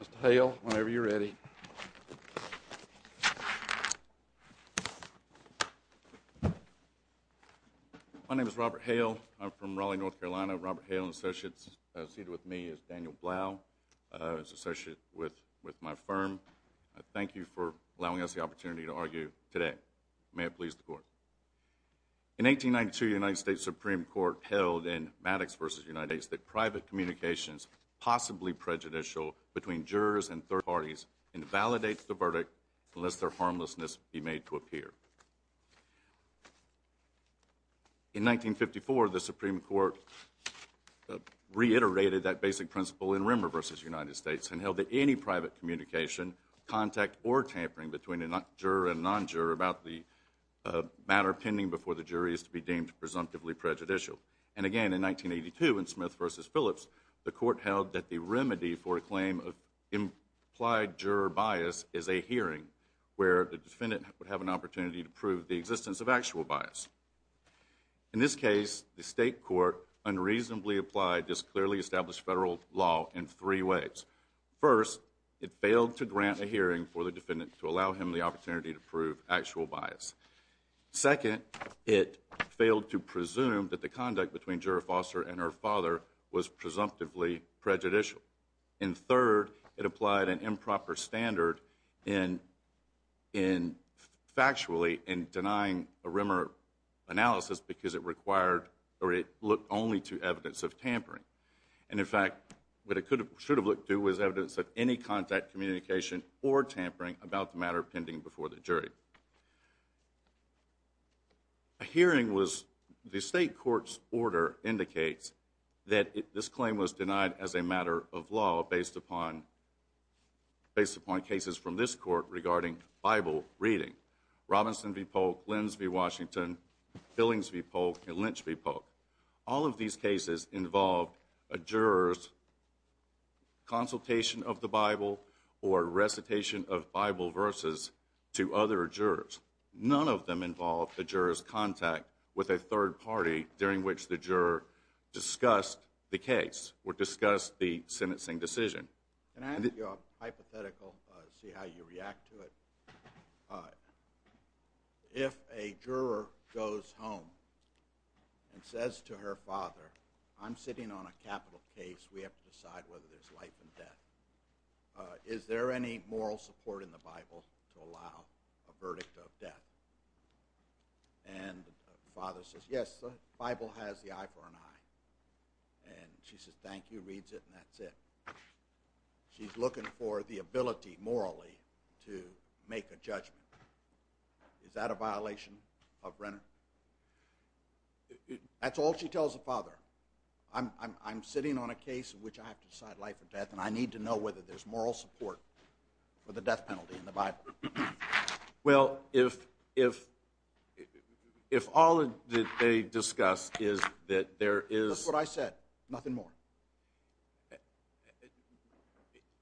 Mr. Hale, whenever you're ready. My name is Robert Hale. I'm from Raleigh, North Carolina. Robert Hale and associates seated with me is Daniel Blau. He's an associate with my firm. I thank you for allowing us the opportunity to argue today. May it please the court. In 1892, the United States Supreme Court held in Maddox v. United States that private communications, possibly prejudicial between jurors and third parties, invalidates the verdict unless their harmlessness be made to appear. In 1954, the Supreme Court reiterated that basic principle in Remmer v. United States and held that any private communication, contact, or tampering between a juror and non-juror about the matter pending before the jury is to be deemed presumptively prejudicial. And again, in 1982, in Smith v. Phillips, the court held that the remedy for a claim of implied juror bias is a hearing where the defendant would have an opportunity to prove the existence of actual bias. In this case, the state court unreasonably applied this clearly established federal law in three ways. First, it failed to grant a hearing for the defendant to allow him the opportunity to prove actual bias. Second, it failed to presume that the conduct between Juror Foster and her father was presumptively prejudicial. And third, it applied an improper standard factually in denying a Remmer analysis because it looked only to evidence of tampering. And in fact, what it should have looked to was evidence of any contact, communication, or tampering with the jury. A hearing was, the state court's order indicates that this claim was denied as a matter of law based upon, based upon cases from this court regarding Bible reading. Robinson v. Polk, Lins v. Washington, Billings v. Polk, and Lynch v. Polk. All of these cases involved a juror's consultation of the Bible or recitation of Bible verses to other jurors. None of them involved the juror's contact with a third party during which the juror discussed the case or discussed the sentencing decision. Can I ask you a hypothetical to see how you react to it? If a juror goes home and says to her father, I'm sitting on a capital case, we have to decide whether there's life and death to allow a verdict of death. And the father says, yes, the Bible has the eye for an eye. And she says, thank you, reads it, and that's it. She's looking for the ability morally to make a judgment. Is that a violation of Remmer? That's all she tells the father. I'm sitting on a case in which I have to decide life or death, and I need to know whether there's moral support for the death penalty in the Bible. Well, if all that they discuss is that there is... That's what I said. Nothing more.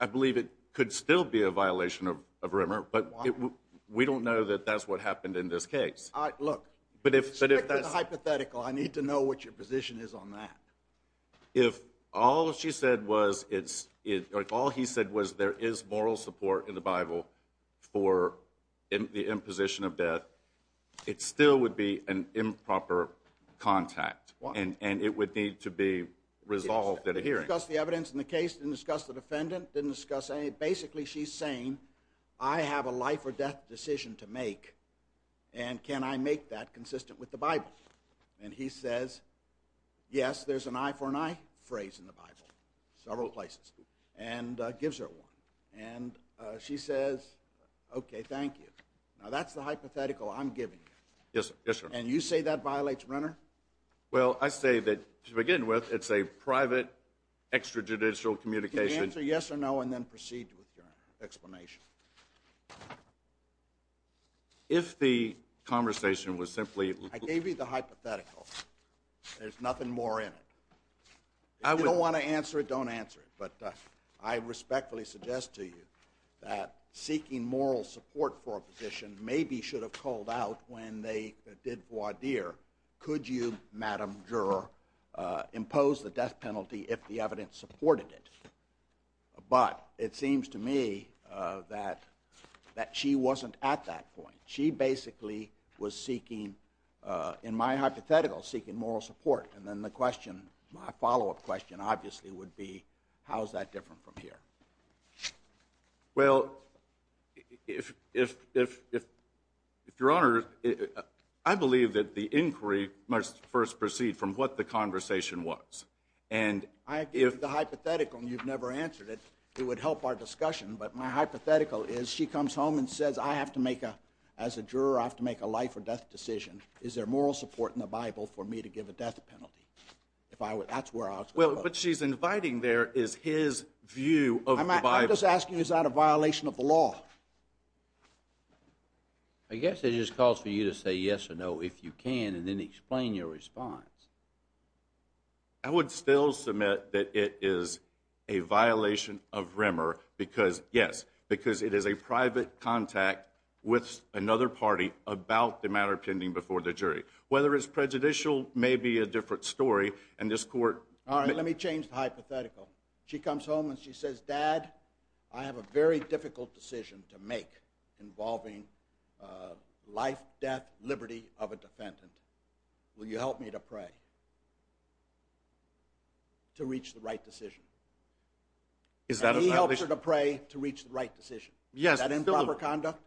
I believe it could still be a violation of Remmer, but we don't know that that's what happened in this case. All right, look. But if that's... That's hypothetical. I need to know what your position is on that. If all he said was there is moral support in the Bible for the imposition of death, it still would be an improper contact, and it would need to be resolved at a hearing. Didn't discuss the evidence in the case, didn't discuss the defendant, didn't discuss any... Basically, she's saying, I have a life or death decision to make, and can I make that for an I phrase in the Bible, several places, and gives her one. And she says, okay, thank you. Now, that's the hypothetical I'm giving you. Yes, sir. And you say that violates Remmer? Well, I say that, to begin with, it's a private, extrajudicial communication. Answer yes or no, and then proceed with your explanation. If the conversation was simply... I gave you the hypothetical. There's nothing more in it. If you don't want to answer it, don't answer it. But I respectfully suggest to you that seeking moral support for a position maybe should have called out when they did voir dire, could you, Madam Juror, impose the death penalty if the evidence supported it? But it seems to me that she wasn't at that point. She basically was seeking, in my hypothetical, seeking moral support. And then the question, my follow-up question, obviously, would be how is that different from here? Well, if Your Honor, I believe that the inquiry must first proceed from what the conversation was. I gave you the hypothetical, and you've never answered it. It would help our discussion, but my hypothetical is she comes home and says, as a juror, I have to make a life or death decision. Is there moral support in the Bible for me to give a death penalty? That's where I was going. But she's inviting there is his view of the Bible. I'm just asking, is that a violation of the law? I guess it just calls for you to say yes or no if you can, and then explain your response. I would still submit that it is a violation of RMR, yes, because it is a private contact with another party about the matter pending before the jury. Whether it's prejudicial may be a different story, and this court... All right, let me change the hypothetical. She comes home and she says, dad, I have a very difficult decision to make involving life, death, liberty of a defendant. Will you help me to pray to reach the right decision? And he helps her to pray to reach the right decision. Is that improper conduct?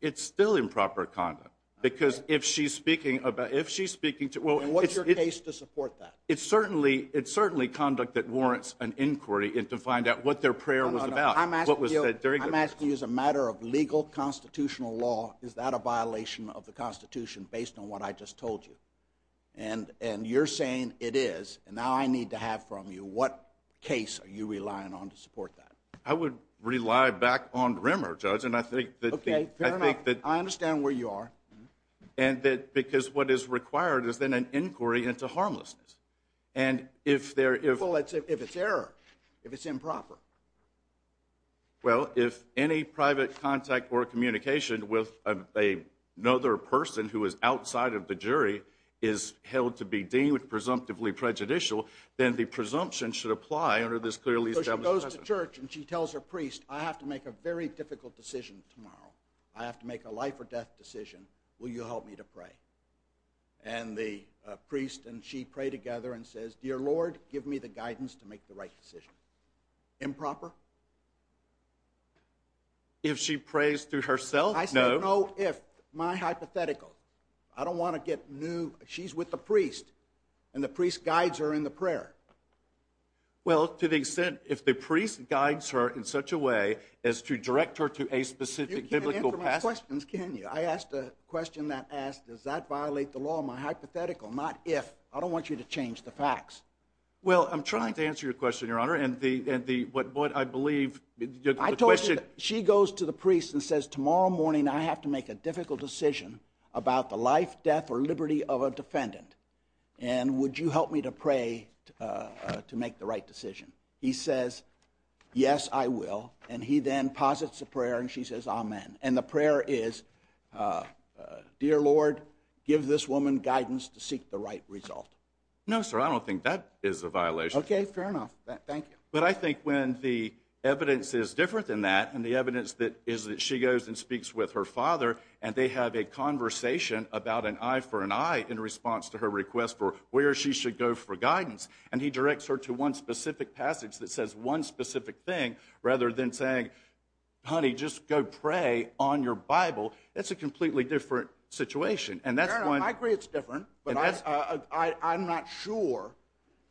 It's still improper conduct, because if she's speaking... And what's your case to support that? It's certainly conduct that warrants an inquiry to find out what their prayer was about. I'm asking you as a matter of legal constitutional law, is that a violation of the Constitution based on what I just told you? And you're saying it is, and now I need to have from you what case are you relying on to support that? I would rely back on RMR, Judge, and I think that... OK, fair enough. I understand where you are. And that because what is required is then an inquiry into harmlessness. And if there... Well, if it's error, if it's improper. Well, if any private contact or communication with another person who is outside of the jury is held to be deemed presumptively prejudicial, then the presumption should apply under this clearly established... So she goes to church and she tells her priest, I have to make a very difficult decision tomorrow. I have to make a life-or-death decision. Will you help me to pray? And the priest and she pray together and says, Dear Lord, give me the guidance to make the right decision. Improper? If she prays through herself, no. I say no if. My hypothetical. I don't want to get new... She's with the priest. And the priest guides her in the prayer. Well, to the extent... If the priest guides her in such a way as to direct her to a specific biblical... You can't answer my questions, can you? I asked a question that asked, does that violate the law? My hypothetical. Not if. I don't want you to change the facts. Well, I'm trying to answer your question, Your Honour, and what I believe... I told you that she goes to the priest and says, tomorrow morning I have to make a difficult decision about the life, death, or liberty of a defendant. And would you help me to pray to make the right decision? He says, yes, I will. And he then posits a prayer and she says, amen. And the prayer is, Dear Lord, give this woman guidance to seek the right result. No, sir, I don't think that is a violation. Okay, fair enough. Thank you. But I think when the evidence is different than that, and the evidence is that she goes and speaks with her father and they have a conversation about an eye for an eye in response to her request for where she should go for guidance, and he directs her to one specific passage that says one specific thing, rather than saying, honey, just go pray on your Bible, that's a completely different situation. And that's when... Your Honour, I agree it's different, but I'm not sure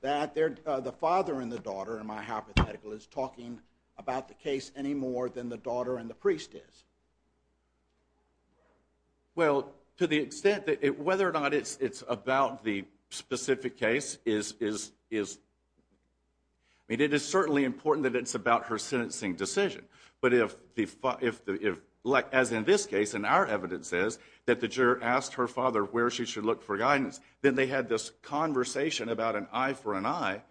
that the father and the daughter, in my hypothetical, is talking about the case any more than the daughter and the priest is. Well, to the extent that... Whether or not it's about the specific case is... I mean, it is certainly important that it's about her sentencing decision. But if... As in this case, and our evidence says that the juror asked her father where she should look for guidance, then they had this conversation about an eye for an eye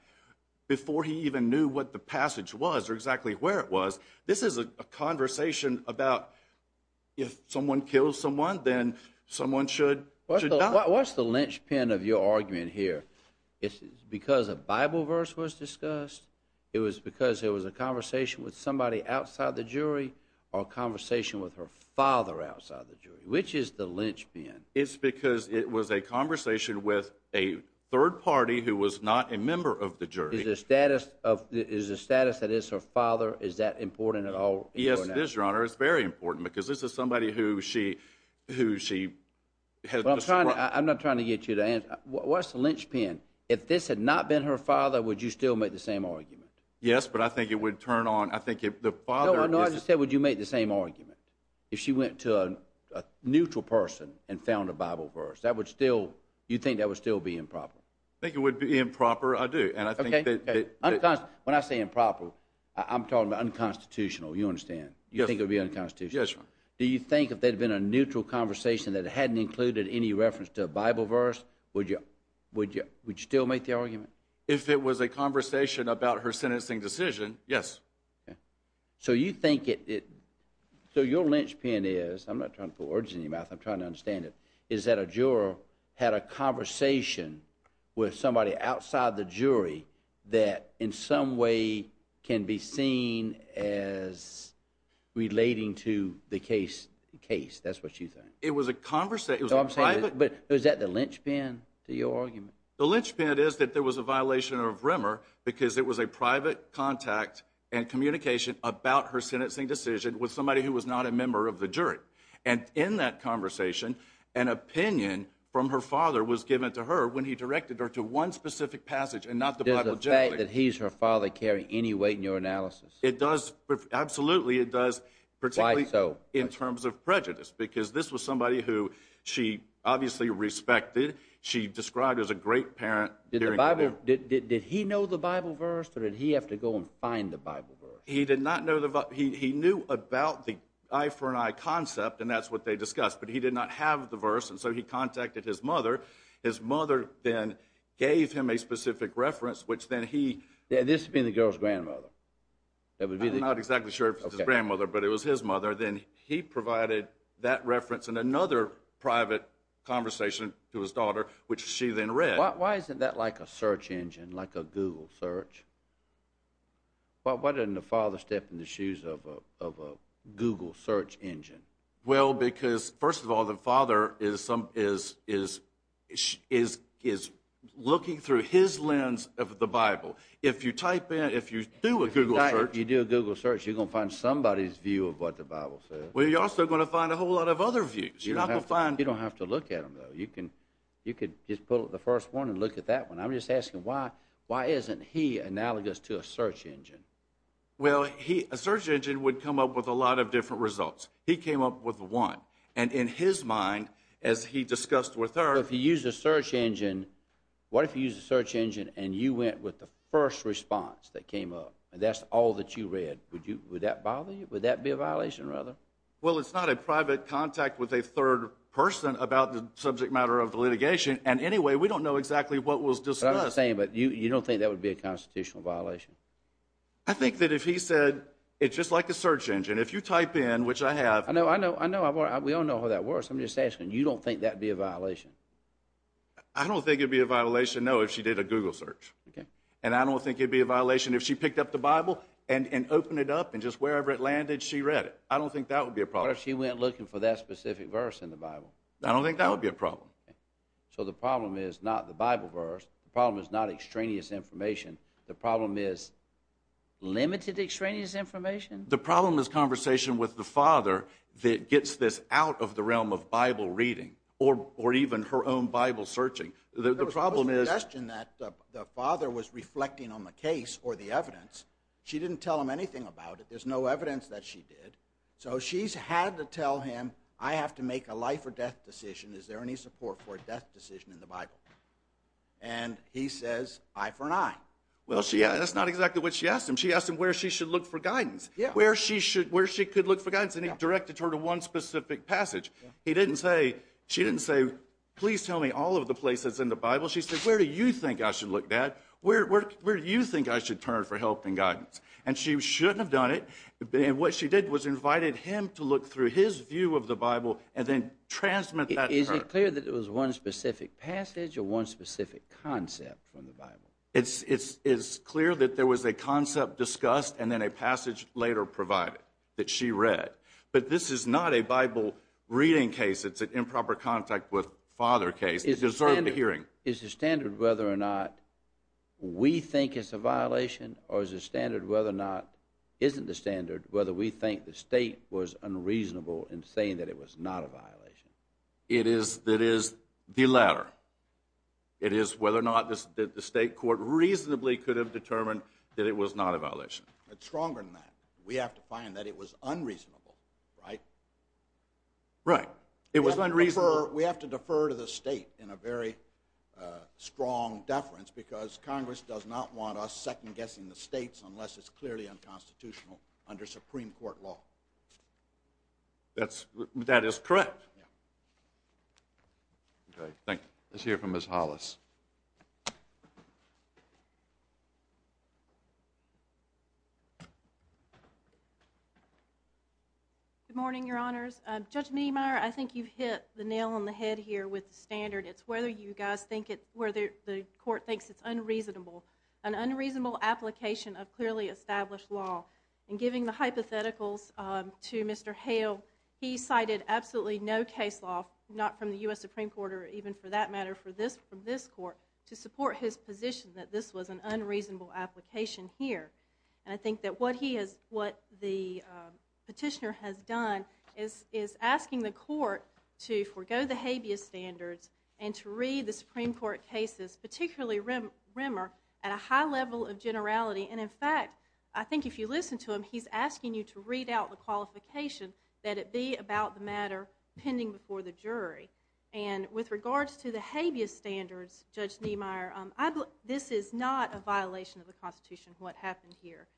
before he even knew what the passage was or exactly where it was. This is a conversation about if someone kills someone, then someone should not... What's the linchpin of your argument here? Is it because a Bible verse was discussed? It was because there was a conversation with somebody outside the jury? Or a conversation with her father outside the jury? Which is the linchpin? It's because it was a conversation with a third party who was not a member of the jury. Is the status that it's her father, is that important at all? Yes, it is, Your Honor. It's very important, because this is somebody who she... I'm not trying to get you to answer. What's the linchpin? If this had not been her father, would you still make the same argument? Yes, but I think it would turn on... No, no, I just said, would you make the same argument if she went to a neutral person and found a Bible verse? That would still... You think that would still be improper? I think it would be improper, I do. When I say improper, I'm talking about unconstitutional, you understand? Do you think if there had been a neutral conversation that hadn't included any reference to a Bible verse, would you still make the argument? If it was a conversation about her sentencing decision, yes. So your linchpin is... ...had a conversation with somebody outside the jury that, in some way, can be seen as relating to the case. That's what you think. But is that the linchpin to your argument? The linchpin is that there was a violation of Rimmer because it was a private contact and communication about her sentencing decision with somebody who was not a member of the jury. And in that conversation, an opinion from her father was given to her when he directed her to one specific passage and not the Bible generally. Does the fact that he's her father carry any weight in your analysis? Absolutely, it does. Particularly in terms of prejudice because this was somebody who she obviously respected, she described as a great parent. Did he know the Bible verse or did he have to go and find the Bible verse? He did not know the... He knew about the eye-for-an-eye concept and that's what they discussed but he did not have the verse and so he contacted his mother. His mother then gave him a specific reference which then he... This being the girl's grandmother? I'm not exactly sure if it was his grandmother but it was his mother. Then he provided that reference and another private conversation to his daughter which she then read. Why isn't that like a search engine, like a Google search? Why doesn't the father step in the shoes of a Google search engine? Well, because first of all the father is looking through his lens of the Bible. If you type in, if you do a Google search... If you do a Google search you're going to find somebody's view of what the Bible says. Well, you're also going to find a whole lot of other views. You don't have to look at them though. You can just pull up the first one and look at that one. I'm just asking why isn't he analogous to a search engine? A search engine would come up with a lot of different results. He came up with one and in his mind as he discussed with her... What if you used a search engine and you went with the first response that came up and that's all that you read. Would that bother you? Would that be a violation rather? Well, it's not a private contact with a third person about the subject matter of the litigation and anyway we don't know exactly what was discussed. You don't think that would be a constitutional violation? I think that if he said it's just like a search engine. If you type in, which I have... We all know how that works. I'm just asking. You don't think that would be a violation? I don't think it would be a violation, no, if she did a Google search. I don't think it would be a violation if she picked up the Bible and opened it up and just wherever it landed she read it. I don't think that would be a problem. What if she went looking for that specific verse in the Bible? I don't think that would be a problem. So the problem is not the Bible verse. The problem is not extraneous information. The problem is limited extraneous information? The problem is conversation with the father that gets this out of the realm of Bible reading or even her own Bible searching. The problem is... There was a suggestion that the father was reflecting on the case or the evidence. She didn't tell him anything about it. There's no evidence that she did. So she's had to tell him, I have to make a life or death decision. Is there any support for a death decision in the Bible? And he says, eye for an eye. Well, that's not exactly what she asked him. She asked him where she should look for guidance. Where she could look for guidance? And he directed her to one specific passage. He didn't say, she didn't say, please tell me all of the places in the Bible. She said, where do you think I should look, dad? Where do you think I should turn for help and guidance? And she shouldn't have done it. What she did was invited him to look through his view of the Bible and then transmit that to her. Is it clear that it was one specific passage or one specific concept from the Bible? It's clear that there was a concept discussed and then a passage later provided that she read. But this is not a Bible reading case. It's an improper contact with father case. It deserved a hearing. Is the standard whether or not we think it's a violation or is the standard whether or not isn't the standard whether we think the state was unreasonable in saying that it was not a violation? It is the latter. It is whether or not the state court reasonably could have determined that it was not a violation. It's stronger than that. We have to find that it was unreasonable. Right? Right. It was unreasonable. We have to defer to the state in a very strong deference because Congress does not want us second guessing the states unless it's in court law. That is correct. Let's hear from Ms. Hollis. Good morning, Your Honors. Judge Niemeyer, I think you've hit the nail on the head here with the standard. It's whether you guys think it's where the court thinks it's unreasonable. An unreasonable application of clearly established law. And giving the hypotheticals to Mr. Hale, he cited absolutely no case law, not from the U.S. Supreme Court or even for that matter from this court to support his position that this was an unreasonable application here. And I think that what he has what the petitioner has done is asking the court to forego the habeas standards and to read the Supreme Court cases, particularly Rimmer, at a high level of generality. And in fact, I think if you listen to him, he's asking you to read out the qualification that it be about the matter pending before the jury. And with regards to the habeas standards, Judge Niemeyer, this is not a violation of the Constitution, what happened here.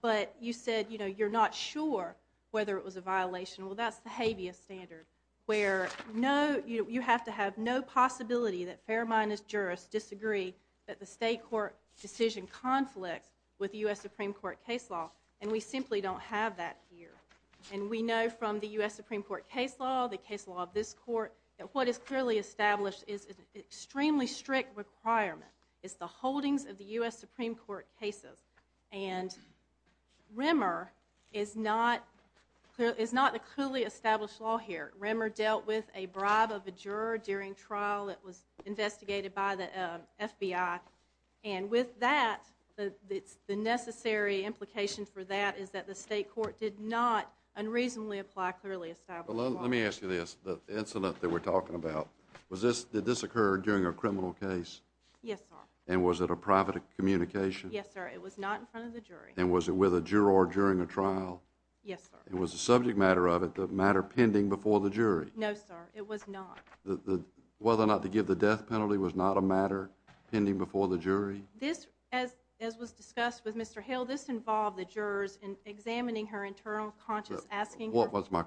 But you said you're not sure whether it was a violation. Well, that's the habeas standard where you have to have no possibility that fair-minded jurists disagree that the state court decision conflicts with the U.S. Supreme Court case law. And we simply don't have that here. And we know from the U.S. Supreme Court case law, the case law of this court, that what is clearly established is an extremely strict requirement. It's the holdings of the U.S. Supreme Court cases. And Rimmer is not a clearly established law here. Rimmer dealt with a bribe of a juror during trial that was an FBI. And with that, the necessary implication for that is that the state court did not unreasonably apply a clearly established law. Let me ask you this. The incident that we're talking about, did this occur during a criminal case? Yes, sir. And was it a private communication? Yes, sir. It was not in front of the jury. And was it with a juror during a trial? Yes, sir. And was the subject matter of it the matter pending before the jury? No, sir. It was not. Whether or not to give the matter pending before the jury? As was discussed with Mr. Hill, this involved the jurors in examining her internal conscience asking her My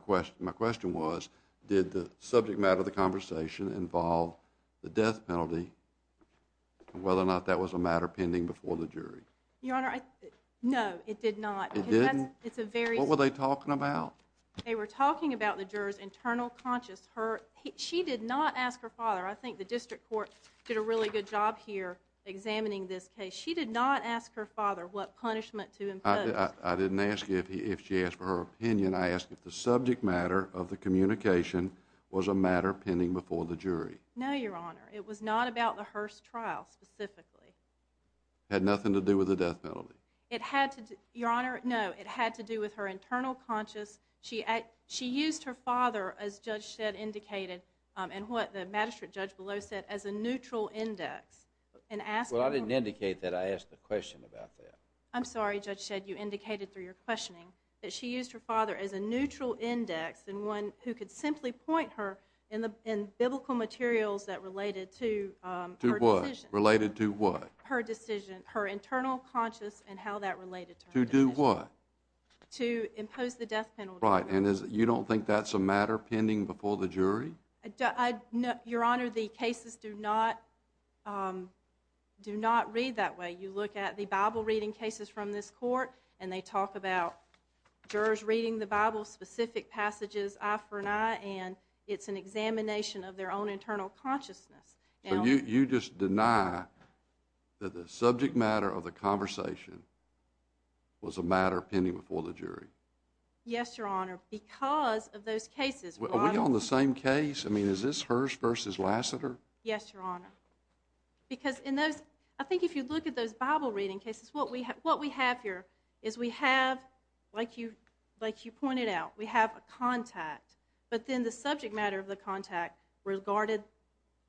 question was, did the subject matter of the conversation involve the death penalty and whether or not that was a matter pending before the jury? No, it did not. It didn't? What were they talking about? They were talking about the jurors internal conscience. She did not ask her father. I think the examining this case. She did not ask her father what punishment to impose. I didn't ask if she asked for her opinion. I asked if the subject matter of the communication was a matter pending before the jury. No, Your Honor. It was not about the Hearst trial, specifically. Had nothing to do with the death penalty? It had to, Your Honor, no. It had to do with her internal conscience. She used her father as Judge said, indicated and what the magistrate judge below said as a neutral index Well, I didn't indicate that. I asked the question about that. I'm sorry, Judge Shedd. You indicated through your questioning that she used her father as a neutral index and one who could simply point her in biblical materials that related to her decision. Related to what? Her internal conscience and how that related to her decision. To do what? To impose the death penalty. Right, and you don't think that's a matter pending before the jury? Your Honor, the cases do not read that way. You look at the Bible reading cases from this court and they talk about jurors reading the Bible specific passages eye for an eye and it's an examination of their own internal consciousness. You just deny that the subject matter of the conversation was a matter pending before the jury? Yes, Your Honor, because of the same case? I mean, is this Hearst versus Lassiter? Yes, Your Honor. Because in those, I think if you look at those Bible reading cases, what we have here is we have like you pointed out, we have a contact but then the subject matter of the contact regarded,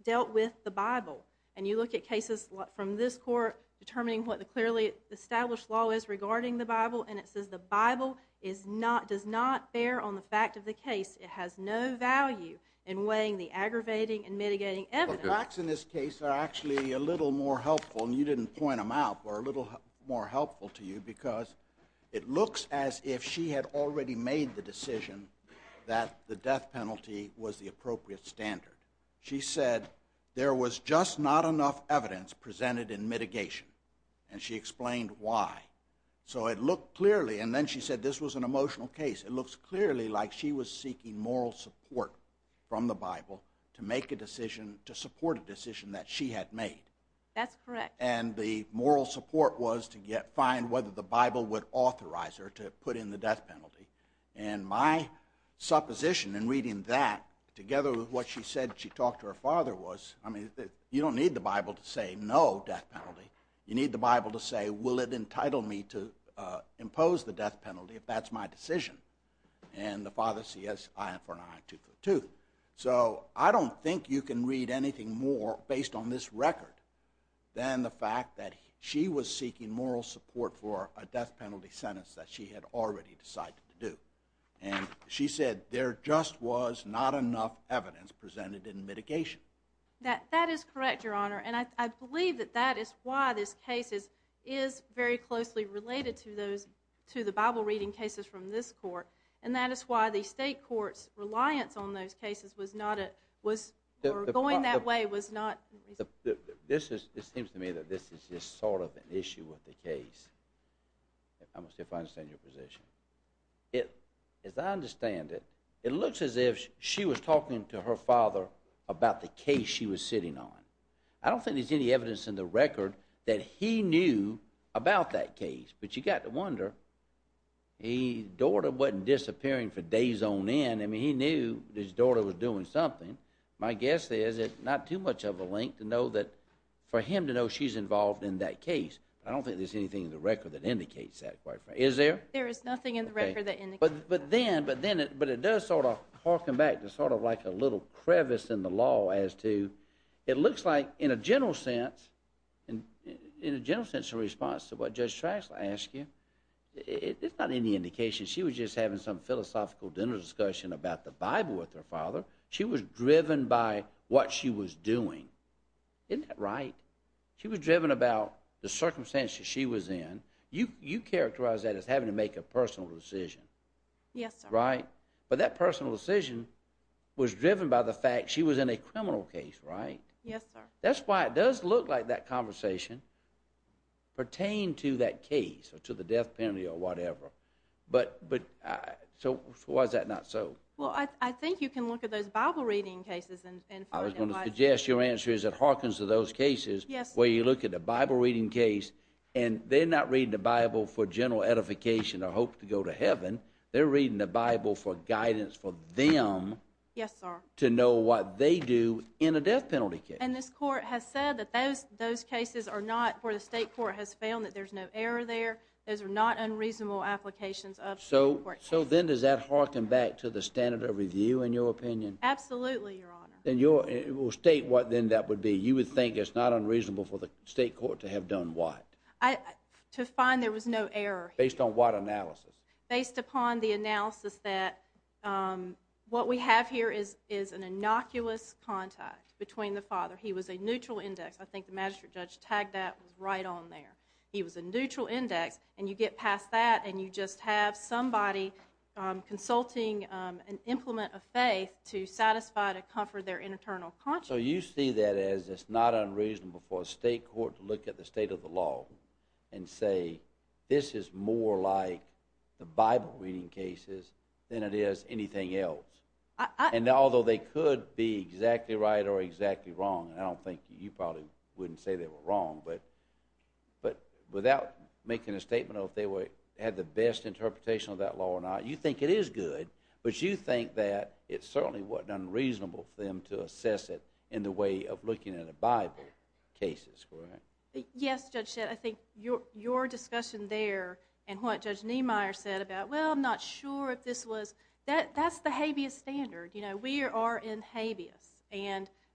dealt with the Bible. And you look at cases from this court determining what the clearly established law is regarding the Bible and it says the Bible does not bear on the fact of the case. It has no value in weighing the aggravating and mitigating evidence. The facts in this case are actually a little more helpful and you didn't point them out, but a little more helpful to you because it looks as if she had already made the decision that the death penalty was the appropriate standard. She said there was just not enough evidence presented in mitigation and she explained why. So it looked clearly and then she said this was an emotional case. It looks clearly like she was seeking moral support from the Bible to make a decision, to support a decision that she had made. That's correct. And the moral support was to find whether the Bible would authorize her to put in the death penalty. And my supposition in reading that together with what she said she talked to her father was I mean, you don't need the Bible to say no death penalty. You need the Bible to say will it entitle me to if that's my decision. And the father says I for an eye tooth for a tooth. So I don't think you can read anything more based on this record than the fact that she was seeking moral support for a death penalty sentence that she had already decided to do. And she said there just was not enough evidence presented in mitigation. That is correct, Your Honor, and I believe that that is why this case is very closely related to the Bible reading cases from this court. And that is why the state court's reliance on those cases was not going that way was not This seems to me that this is just sort of an issue with the case. If I understand your position. As I understand it, it looks as if she was talking to her father about the case she was sitting on. I don't think there's any evidence in the record that he knew about that case, but you got to wonder his daughter wasn't disappearing for days on end. I mean, he knew his daughter was doing something. My guess is it's not too much of a link to know that for him to know she's involved in that case. I don't think there's anything in the record that indicates that. Is there? There is nothing in the record that indicates that. But then it does sort of harken back to sort of like a little crevice in the law as to it looks like in a general sense in a general sense in response to what Judge Tracz asked you it's not any indication she was just having some philosophical dinner discussion about the Bible with her father. She was driven by what she was doing. Isn't that right? She was driven about the circumstances she was in. You characterize that as having to make a personal decision. Yes, sir. Right? But that personal decision was driven by the fact she was in a criminal case, right? Yes, sir. That's why it does look like that conversation pertained to that case or to the death penalty or whatever. So why is that not so? Well, I think you can look at those Bible reading cases. I was going to suggest your answer is it harkens to those cases where you look at the Bible reading case and they're not reading the Bible for general edification or hope to go to heaven. They're reading the Bible for guidance for them to know what they do in a death penalty case. And this court has said that those cases are not where the state court has found that there's no error there. Those are not unreasonable applications of court cases. So then does that harken back to the standard of review in your opinion? Absolutely, Your Honor. Then you will state what then that would be. You would think it's not unreasonable for the state court to have done what? To find there was no error. Based on what analysis? Based upon the analysis that what we have here is an innocuous contact between the father. He was a neutral index. I think the magistrate judge tagged that right on there. He was a neutral index and you get past that and you just have somebody consulting an implement of faith to satisfy to comfort their internal conscience. So you see that as it's not unreasonable for a state court to look at the state of the law and say this is more like the Bible reading cases than it is anything else. And although they could be exactly right or exactly wrong, and I don't think you probably wouldn't say they were wrong, but without making a statement of if they had the best interpretation of that law or not, you think it is good, but you think that it certainly wasn't unreasonable for them to assess it in the way of looking at a Bible cases. Yes, Judge Shedd. I think your discussion there and what Judge Niemeyer said about well I'm not sure if this was that's the habeas standard. We are in habeas.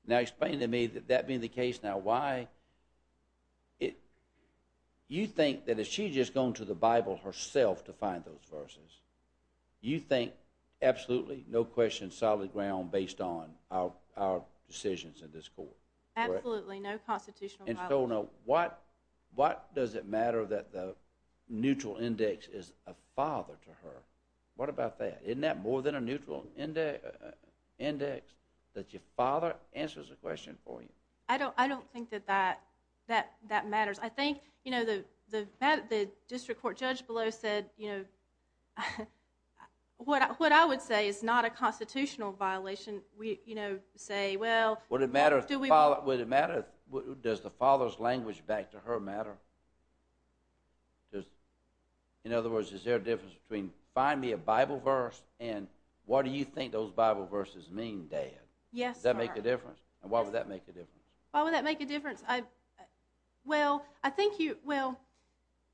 Now explain to me that that being the case now why you think that if she had just gone to the Bible herself to find those verses you think absolutely no question solid ground based on our decisions in this court? Absolutely, no constitutional violation. And so now what does it matter that the language back to her? What about that? Isn't that more than a neutral index that your father answers the question for you? I don't think that matters. I think the district court judge below said what I would say is not a constitutional violation say well Would it matter does the father's language back to her matter? In other words is there a difference between find me a Bible verse and what do you think those Bible verses mean dad? Does that make a difference? Why would that make a difference? Well I think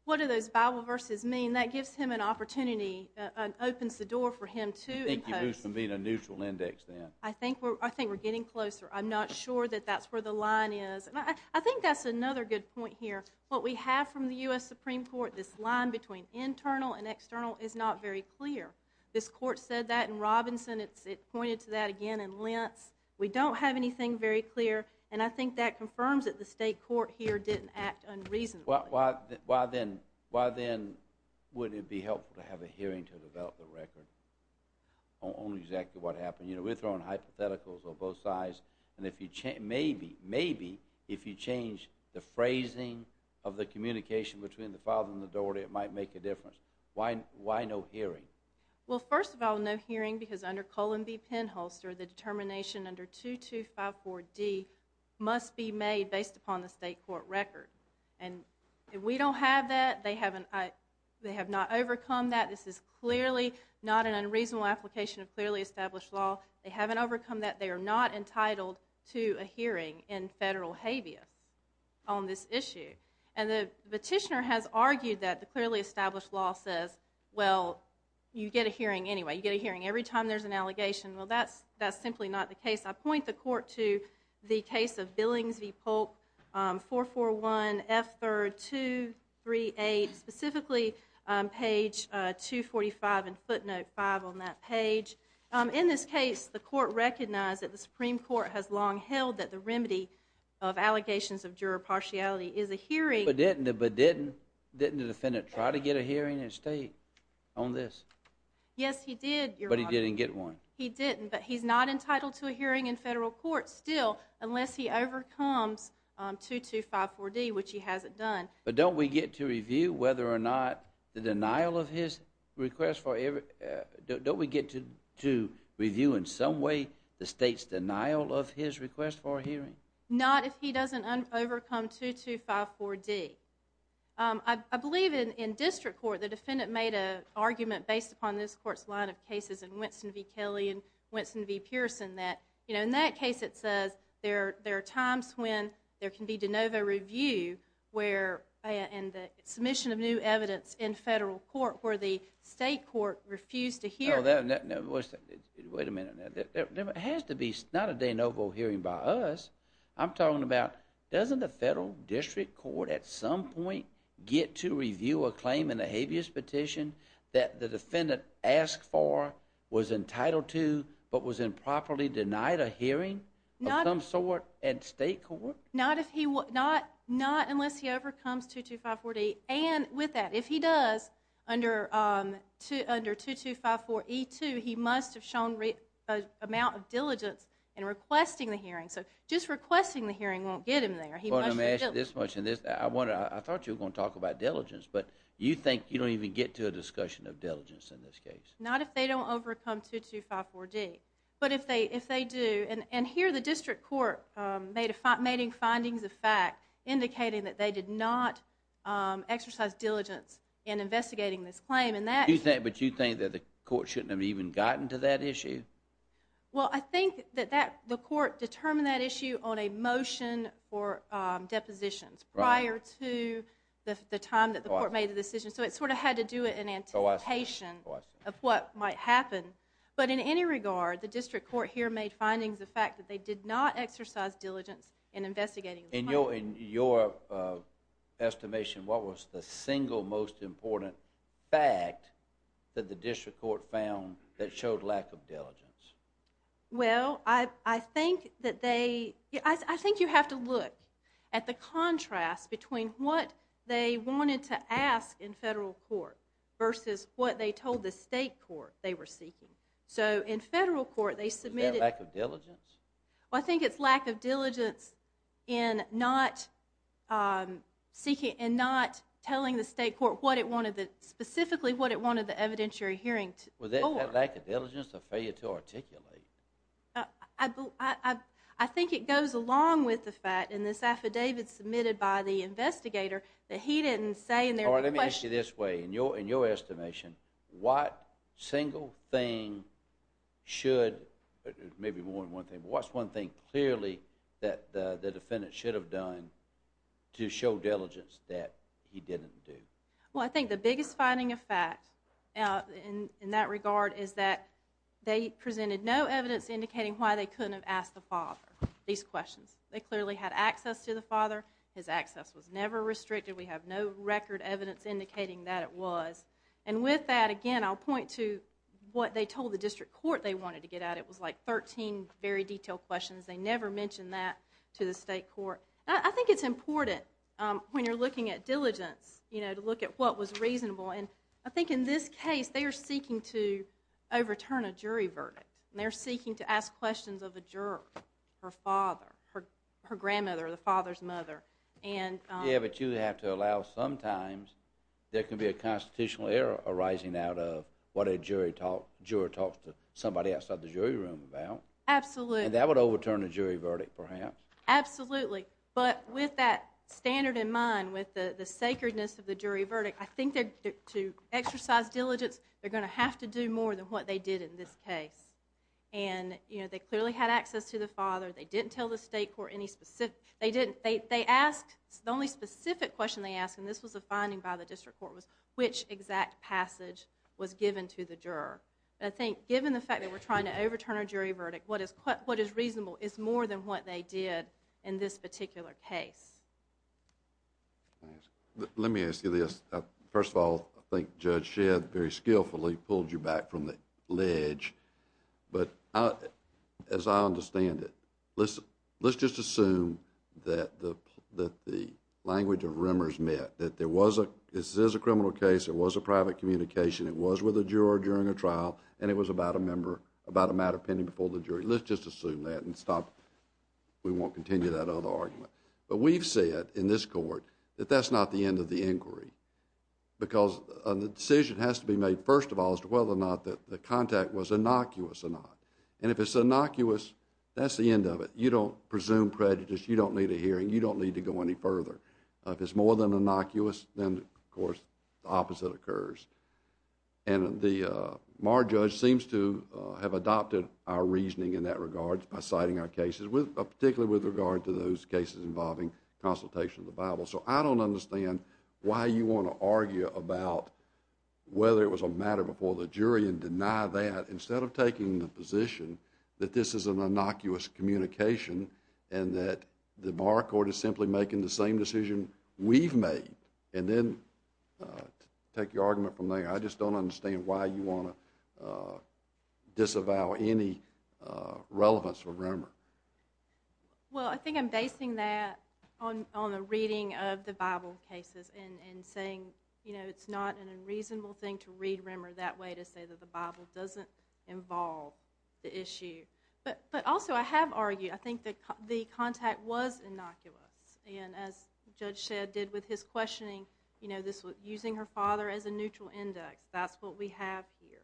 what do those Bible verses mean? That gives him an opportunity and opens the door for him to impose I think we're getting closer. I'm not sure that that's where the line is. I think that's another good point here what we have from the U.S. Supreme Court this line between internal and external is not very clear this court said that in Robinson it pointed to that again in Lentz we don't have anything very clear and I think that confirms that the state court here didn't act unreasonably. Why then would it be helpful to have a hearing to develop the record on exactly what happened? You know we're throwing hypotheticals on both sides and maybe if you change the phrasing of the communication between the father and the daughter it might make a difference why no hearing? Well first of all no hearing because under Cullen v. Penholster the determination under 2254d must be made based upon the state court record and we don't have that they have not overcome that this is clearly not an unreasonable application of clearly established law they haven't overcome that they are not entitled to a hearing in federal habeas on this issue and the petitioner has argued that the clearly established law says well you get a hearing anyway you get a hearing every time there's an allegation well that's simply not the case. I point the court to the case of Billings v. Polk 441 F. 3rd 238 specifically page 245 and footnote 5 on that page. In this case the court recognized that the Supreme Court has long held that the remedy of allegations of juror partiality is a hearing. But didn't the defendant try to get a hearing in state on this? Yes he did. But he didn't get one. He didn't but he's not entitled to a hearing in federal court still unless he overcomes 2254d which he hasn't done But don't we get to review whether or not the denial of his request for don't we get to review in some way the state's denial of his request for a hearing? Not if he doesn't overcome 2254d I believe in district court the defendant made an argument based upon this court's line of cases in Winston v. Kelly and Winston v. Pearson that in that case it says there are times when there can be de novo review and the submission of new state court refused to hear Wait a minute There has to be not a de novo hearing by us I'm talking about doesn't the federal district court at some point get to review a claim in the habeas petition that the defendant asked for was entitled to but was improperly denied a hearing of some sort at state court? Not unless he overcomes 2254d and with that if he does under 2254e2 he must have shown amount of diligence in requesting the hearing so just requesting the hearing won't get him there I thought you were going to talk about diligence but you think you don't even get to a discussion of diligence in this case Not if they don't overcome 2254d but if they do and here the district court made findings of fact indicating that they did not exercise diligence in investigating this claim But you think that the court shouldn't have even gotten to that issue? Well I think that the court determined that issue on a motion for depositions prior to the time that the court made the decision so it sort of had to do it in anticipation of what might happen but in any regard the district court here made findings of fact that they did not exercise diligence in investigating In your estimation what was the single most important fact that the district court found that showed lack of diligence Well I think that they I think you have to look at the contrast between what they wanted to ask in federal court the state court they were seeking so in federal court they submitted Is that lack of diligence? Well I think it's lack of diligence in not seeking in not telling the state court what it wanted specifically what it wanted the evidentiary hearing for Was that lack of diligence or failure to articulate? I think it goes along with the fact in this affidavit submitted by the investigator that he didn't say Or let me ask you this way in your estimation what single thing should maybe more than one thing what's one thing clearly that the defendant should have done to show diligence that he didn't do? Well I think the biggest finding of fact in that regard is that they presented no evidence indicating why they couldn't have asked the father these questions they clearly had access to the father his access was never restricted we have no record evidence indicating that it was and with that again I'll point to what they told the district court they wanted to get at it was like 13 very detailed questions they never mentioned that to the state court I think it's important when you're looking at diligence you know to look at what was reasonable and I think in this case they are seeking to overturn a jury verdict they're seeking to ask questions of the juror her father her grandmother the father's mother and Yeah but you have to allow sometimes there can be a constitutional error arising out of what a jury juror talks to somebody outside the jury room about and that would overturn a jury verdict perhaps absolutely but with that standard in mind with the sacredness of the jury verdict I think to exercise diligence they're going to have to do more than what they did in this case and they clearly had access to the father they didn't tell the state court any specific they asked the only specific question they asked and this was a finding by the district court was which exact passage was given to the juror I think given the fact that we're trying to overturn a jury verdict what is reasonable is more than what they did in this particular case Let me ask you this first of all I think Judge Shedd very skillfully pulled you back from the ledge but as I understand it let's just assume that the language of rumors met that there was a criminal case there was a private communication it was with a juror during a trial and it was about a matter pending before the jury let's just assume that and stop we won't continue that other argument but we've said in this court that that's not the end of the inquiry because the decision has to be made first of all as to whether or not the contact was innocuous or not and if it's innocuous that's the end of it you don't presume prejudice you don't need a hearing you don't need to go any further if it's more than innocuous then of course the opposite occurs and the Judge seems to have adopted our reasoning in that regard by citing our cases particularly with regard to those cases involving consultation of the Bible so I don't understand why you want to argue about whether it was a matter before the jury and deny that instead of taking the position that this is an innocuous communication and that the Bar Court is simply making the same decision we've made and then take your argument from there I just don't understand why you want to disavow any relevance for Rimmer Well I think I'm basing that on the reading of the Bible cases and saying you know it's not an unreasonable thing to read Rimmer that way to say that the Bible doesn't involve the issue but also I have argued I think the contact was innocuous and as Judge Shedd did with his questioning using her father as a neutral index that's what we have here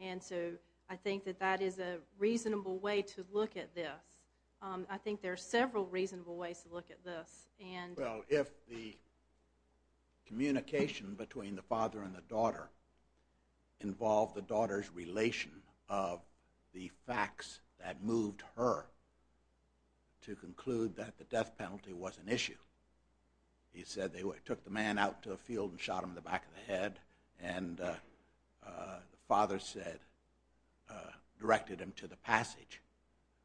and so I think that that is a reasonable way to look at this I think there are several reasonable ways to look at this Well if the communication between the father and the daughter involved the daughter's relation of the facts that moved her to conclude that the death penalty was an issue he said they took the man out to a field and shot him in the back of the head and the father said directed him to the passage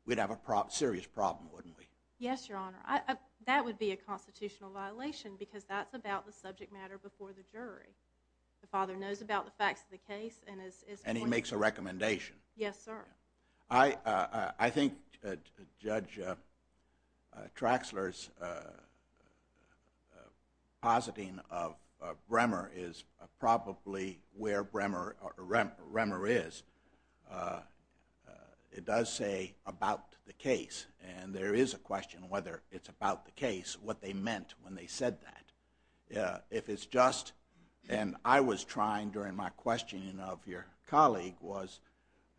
we'd have a serious problem wouldn't we Yes your honor that would be a constitutional violation because that's about the subject matter before the jury the father knows about the facts of the Yes sir I think Judge Traxler's positing of Bremer is probably where Bremer is it does say about the case and there is a question whether it's about the case what they meant when they said that if it's just and I was trying during my questioning of your colleague was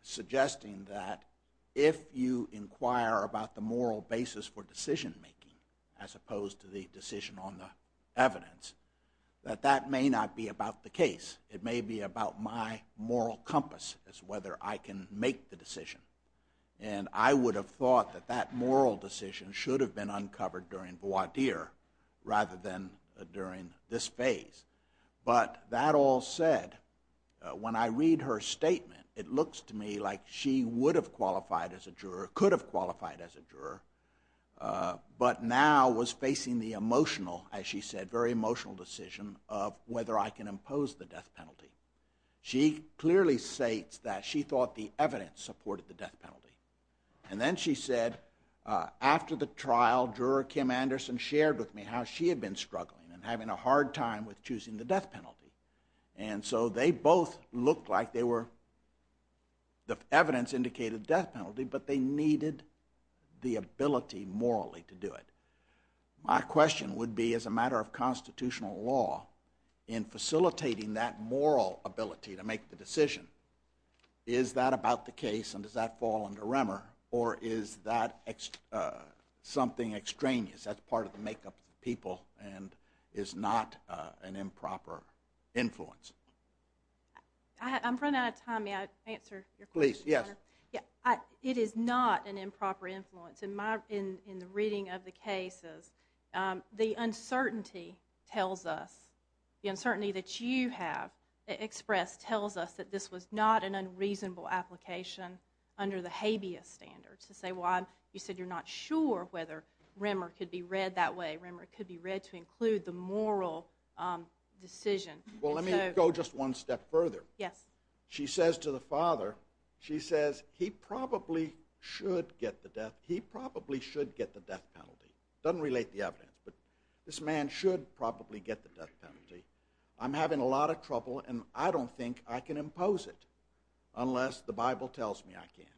suggesting that if you inquire about the moral basis for decision making as opposed to the decision on the evidence that that may not be about the case it may be about my moral compass as to whether I can make the decision and I would have thought that that moral decision should have been uncovered during voir dire rather than during this phase but that all said when I read her statement it looks to me like she would have qualified as a juror could have qualified as a juror but now was facing the emotional as she said very emotional decision of whether I can impose the death penalty she clearly states that she thought the evidence supported the death penalty and then she said after the trial juror Kim Anderson shared with me how she had been struggling and having a hard time with choosing the death penalty and so they both looked like they were the evidence indicated death penalty but they needed the ability morally to do it my question would be as a matter of constitutional law in facilitating that moral ability to make the decision is that about the case and does that fall under Remmer or is that something extraneous that's part of the makeup of the people and is not an improper influence I'm running out of time may I answer your question sir? it is not an improper influence in my reading of the cases the uncertainty tells us the uncertainty that you have expressed tells us that this was not an unreasonable application under the habeas standards to say well you said you're not sure whether Remmer could be read that way Remmer could be read to include the moral decision well let me go just one step further yes she says to the father she says he probably should get the death he probably should get the death penalty doesn't relate to the evidence but this man should probably get the death penalty I'm having a lot of trouble and I don't think I can impose it unless the bible tells me I can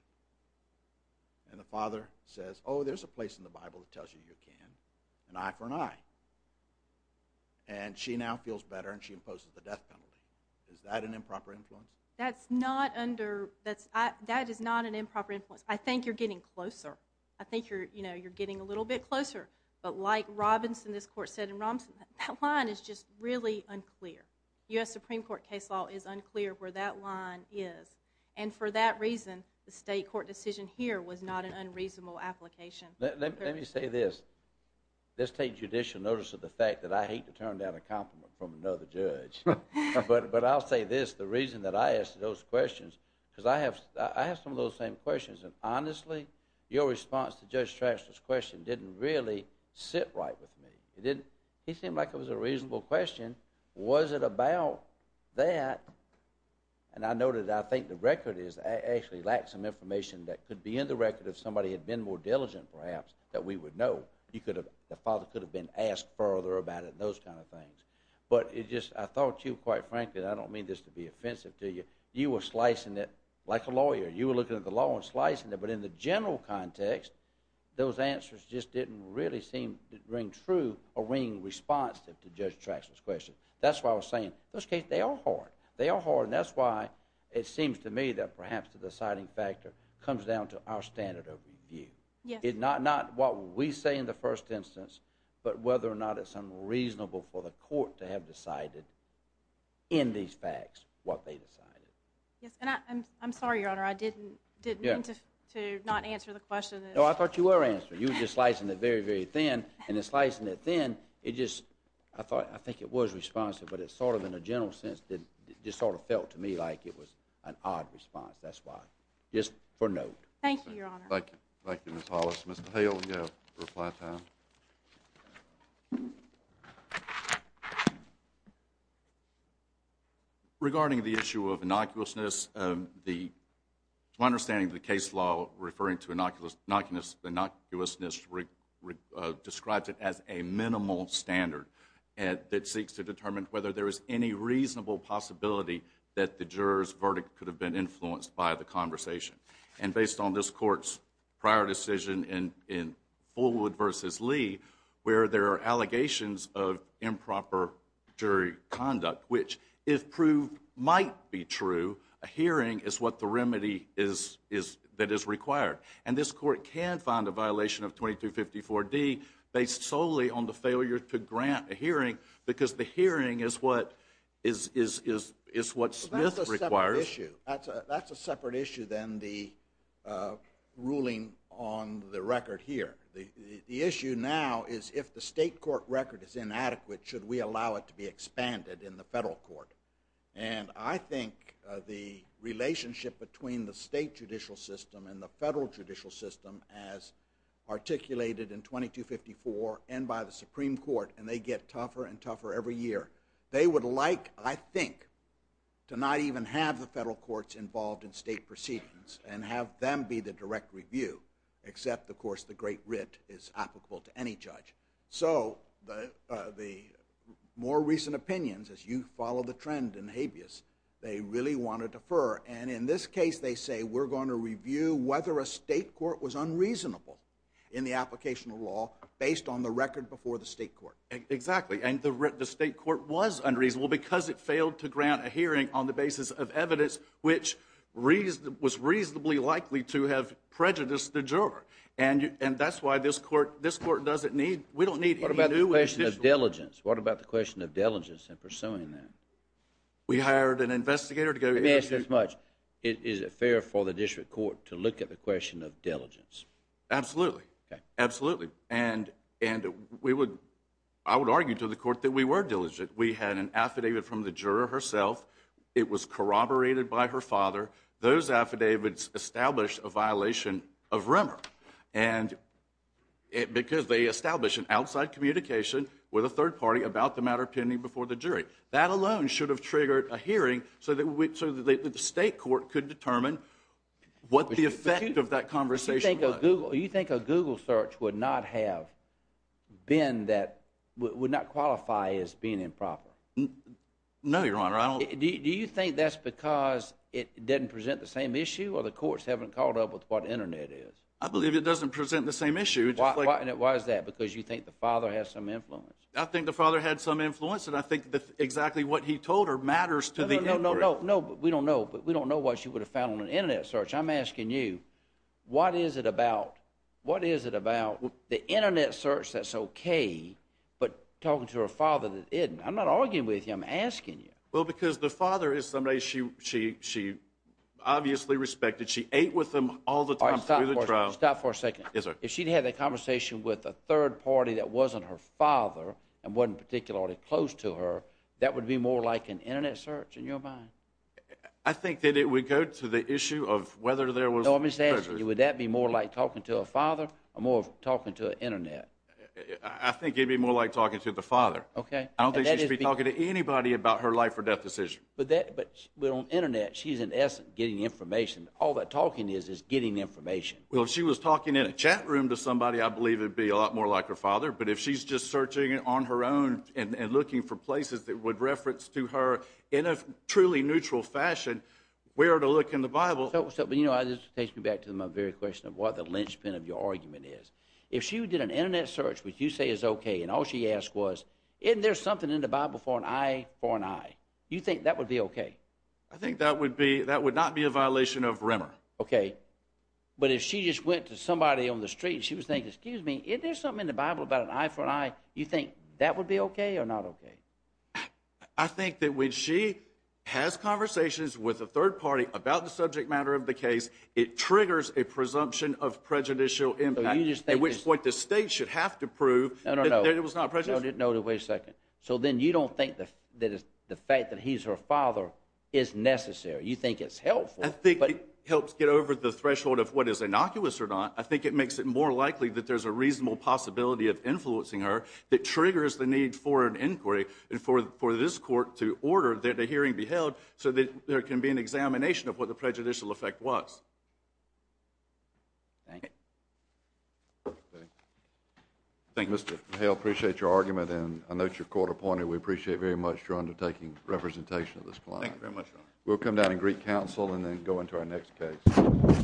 and the father says oh there's a place in the bible that tells you you can an eye for an eye and she now feels better and she imposes the death penalty is that an improper influence that's not under that's that is not an improper influence I think you're getting closer I think you're getting a little bit closer but like Robinson this court said in Robinson that line is just really unclear US Supreme Court case law is unclear where that line is and for that reason the state court decision here was not an unreasonable application let me say this let's take judicial notice of the fact that I hate to turn down a compliment from another judge but I'll say this the reason that I asked those questions because I have I have some of those same questions and honestly your response to Judge Trash's question didn't really sit right with me it didn't he seemed like it was a reasonable question was it about that and I know that I think the record is I actually lack some information that could be in the record if somebody had been more diligent perhaps that we would know you could have the father could have been asked further about it those kind of things but it just I thought you quite frankly I don't mean this to be offensive to you you were slicing it like a lawyer you were looking at the law and slicing it but in the general context those answers just didn't really seem ring true or ring responsive to Judge Trash's question that's why I was saying those cases they are hard they are hard and that's why it seems to me that perhaps the deciding factor comes down to our standard of review not what we say in the first instance but whether or not it's unreasonable for the court to have decided in these facts what they decided yes and I'm sorry your honor I didn't mean to not answer the question no I thought you were answering you were just slicing it very very thin and in slicing it thin it just I thought I think it was responsive but it's sort of in a general sense just sort of felt to me like it was an odd response that's why just for note thank you your honor thank you Ms. Hollis Mr. Hale you have reply time regarding the issue of innocuousness my understanding of the case law referring to innocuousness describes it as a minimal standard that seeks to determine whether there is any reasonable possibility that the jurors verdict could have been influenced by the conversation and based on this courts prior decision in Fullwood vs. Lee where there are allegations of improper jury conduct which if proved might be true a hearing is what the remedy is that is required and this court can find a violation of 2254D based solely on the failure to grant a hearing because the hearing is what is what Smith requires that's a separate issue than the ruling on the record here the issue now is if the state court record is inadequate should we allow it to be expanded in the federal court and I think the relationship between the state judicial system and the federal judicial system as articulated in 2254 and by the supreme court and they get tougher and tougher every year they would like I think to not even have the federal courts involved in state proceedings and have them be the direct review except of course the great writ is applicable to any judge so the more recent opinions as you follow the trend in habeas they really want to defer and in this case they we're going to review whether a state court was unreasonable in the application of law based on the record before the state court exactly and the state court was unreasonable because it failed to grant a hearing on the basis of evidence which was reasonably likely to have prejudiced the juror and that's why this court doesn't need we don't need what about the question of diligence in pursuing that we hired an investigator to go for the district court to look at the question of diligence absolutely absolutely and we would I would argue to the court that we were diligent we had an affidavit from the juror herself it was corroborated by her father those affidavits established a violation of rumor and because they established an outside communication with a third party about the matter pending before the jury that alone should have triggered a hearing so that the state court could determine what the effect of that conversation was you think a google search would not have been that would not qualify as being improper no your honor do you think that's because it didn't present the same issue or the courts haven't caught up with what internet is I believe it doesn't present the same issue why is that because you think the father has some influence I think the father had some influence and I think exactly what he told her matters to the we don't know but we don't know what she would have found on an internet search I'm asking you what is it about what is it about the internet search that's okay but talking to her father that isn't I'm not arguing with you I'm asking you well because the father is somebody she obviously respected she ate with him all the time through the trial stop for a second if she had that conversation with a third party that wasn't her father and wasn't particularly close to her that would be more like an internet search in your mind I think that it would go to the issue of whether there was would that be more like talking to a father or more of talking to an internet I think it would be more like talking to the father I don't think she should be talking to anybody about her life or death decision but on internet she's in essence getting information all that talking is is getting information well if she was talking in a chat room to somebody I believe it would be a lot more like her father but if she's just searching on her own and looking for places that would reference to her in a truly neutral fashion where to look in the Bible but you know this takes me back to my very question of what the linchpin of your argument is if she did an internet search which you say is okay and all she asked was isn't there something in the Bible for an eye for an eye you think that would be okay I think that would be that would not be a violation of Rimmer okay but if she just went to somebody on the street she was thinking excuse me isn't there something in the Bible about an eye for an eye you think that would be okay or not okay I think that when she has conversations with a third party about the subject matter of the case it triggers a presumption of prejudicial impact at which point the state should have to prove that it was not prejudicial so then you don't think that the fact that he's her father is necessary you think it's helpful I think it helps get over the threshold of what is innocuous or not I think it makes it more likely that there's a reasonable possibility of influencing her that triggers the need for an inquiry for this court to order that a hearing be held so that there can be an examination of what the prejudicial effect was Mr. Hale I appreciate your argument and I note your court appointed we appreciate very much your undertaking representation of this client we'll come down and greet counsel and then go into our next case Thank you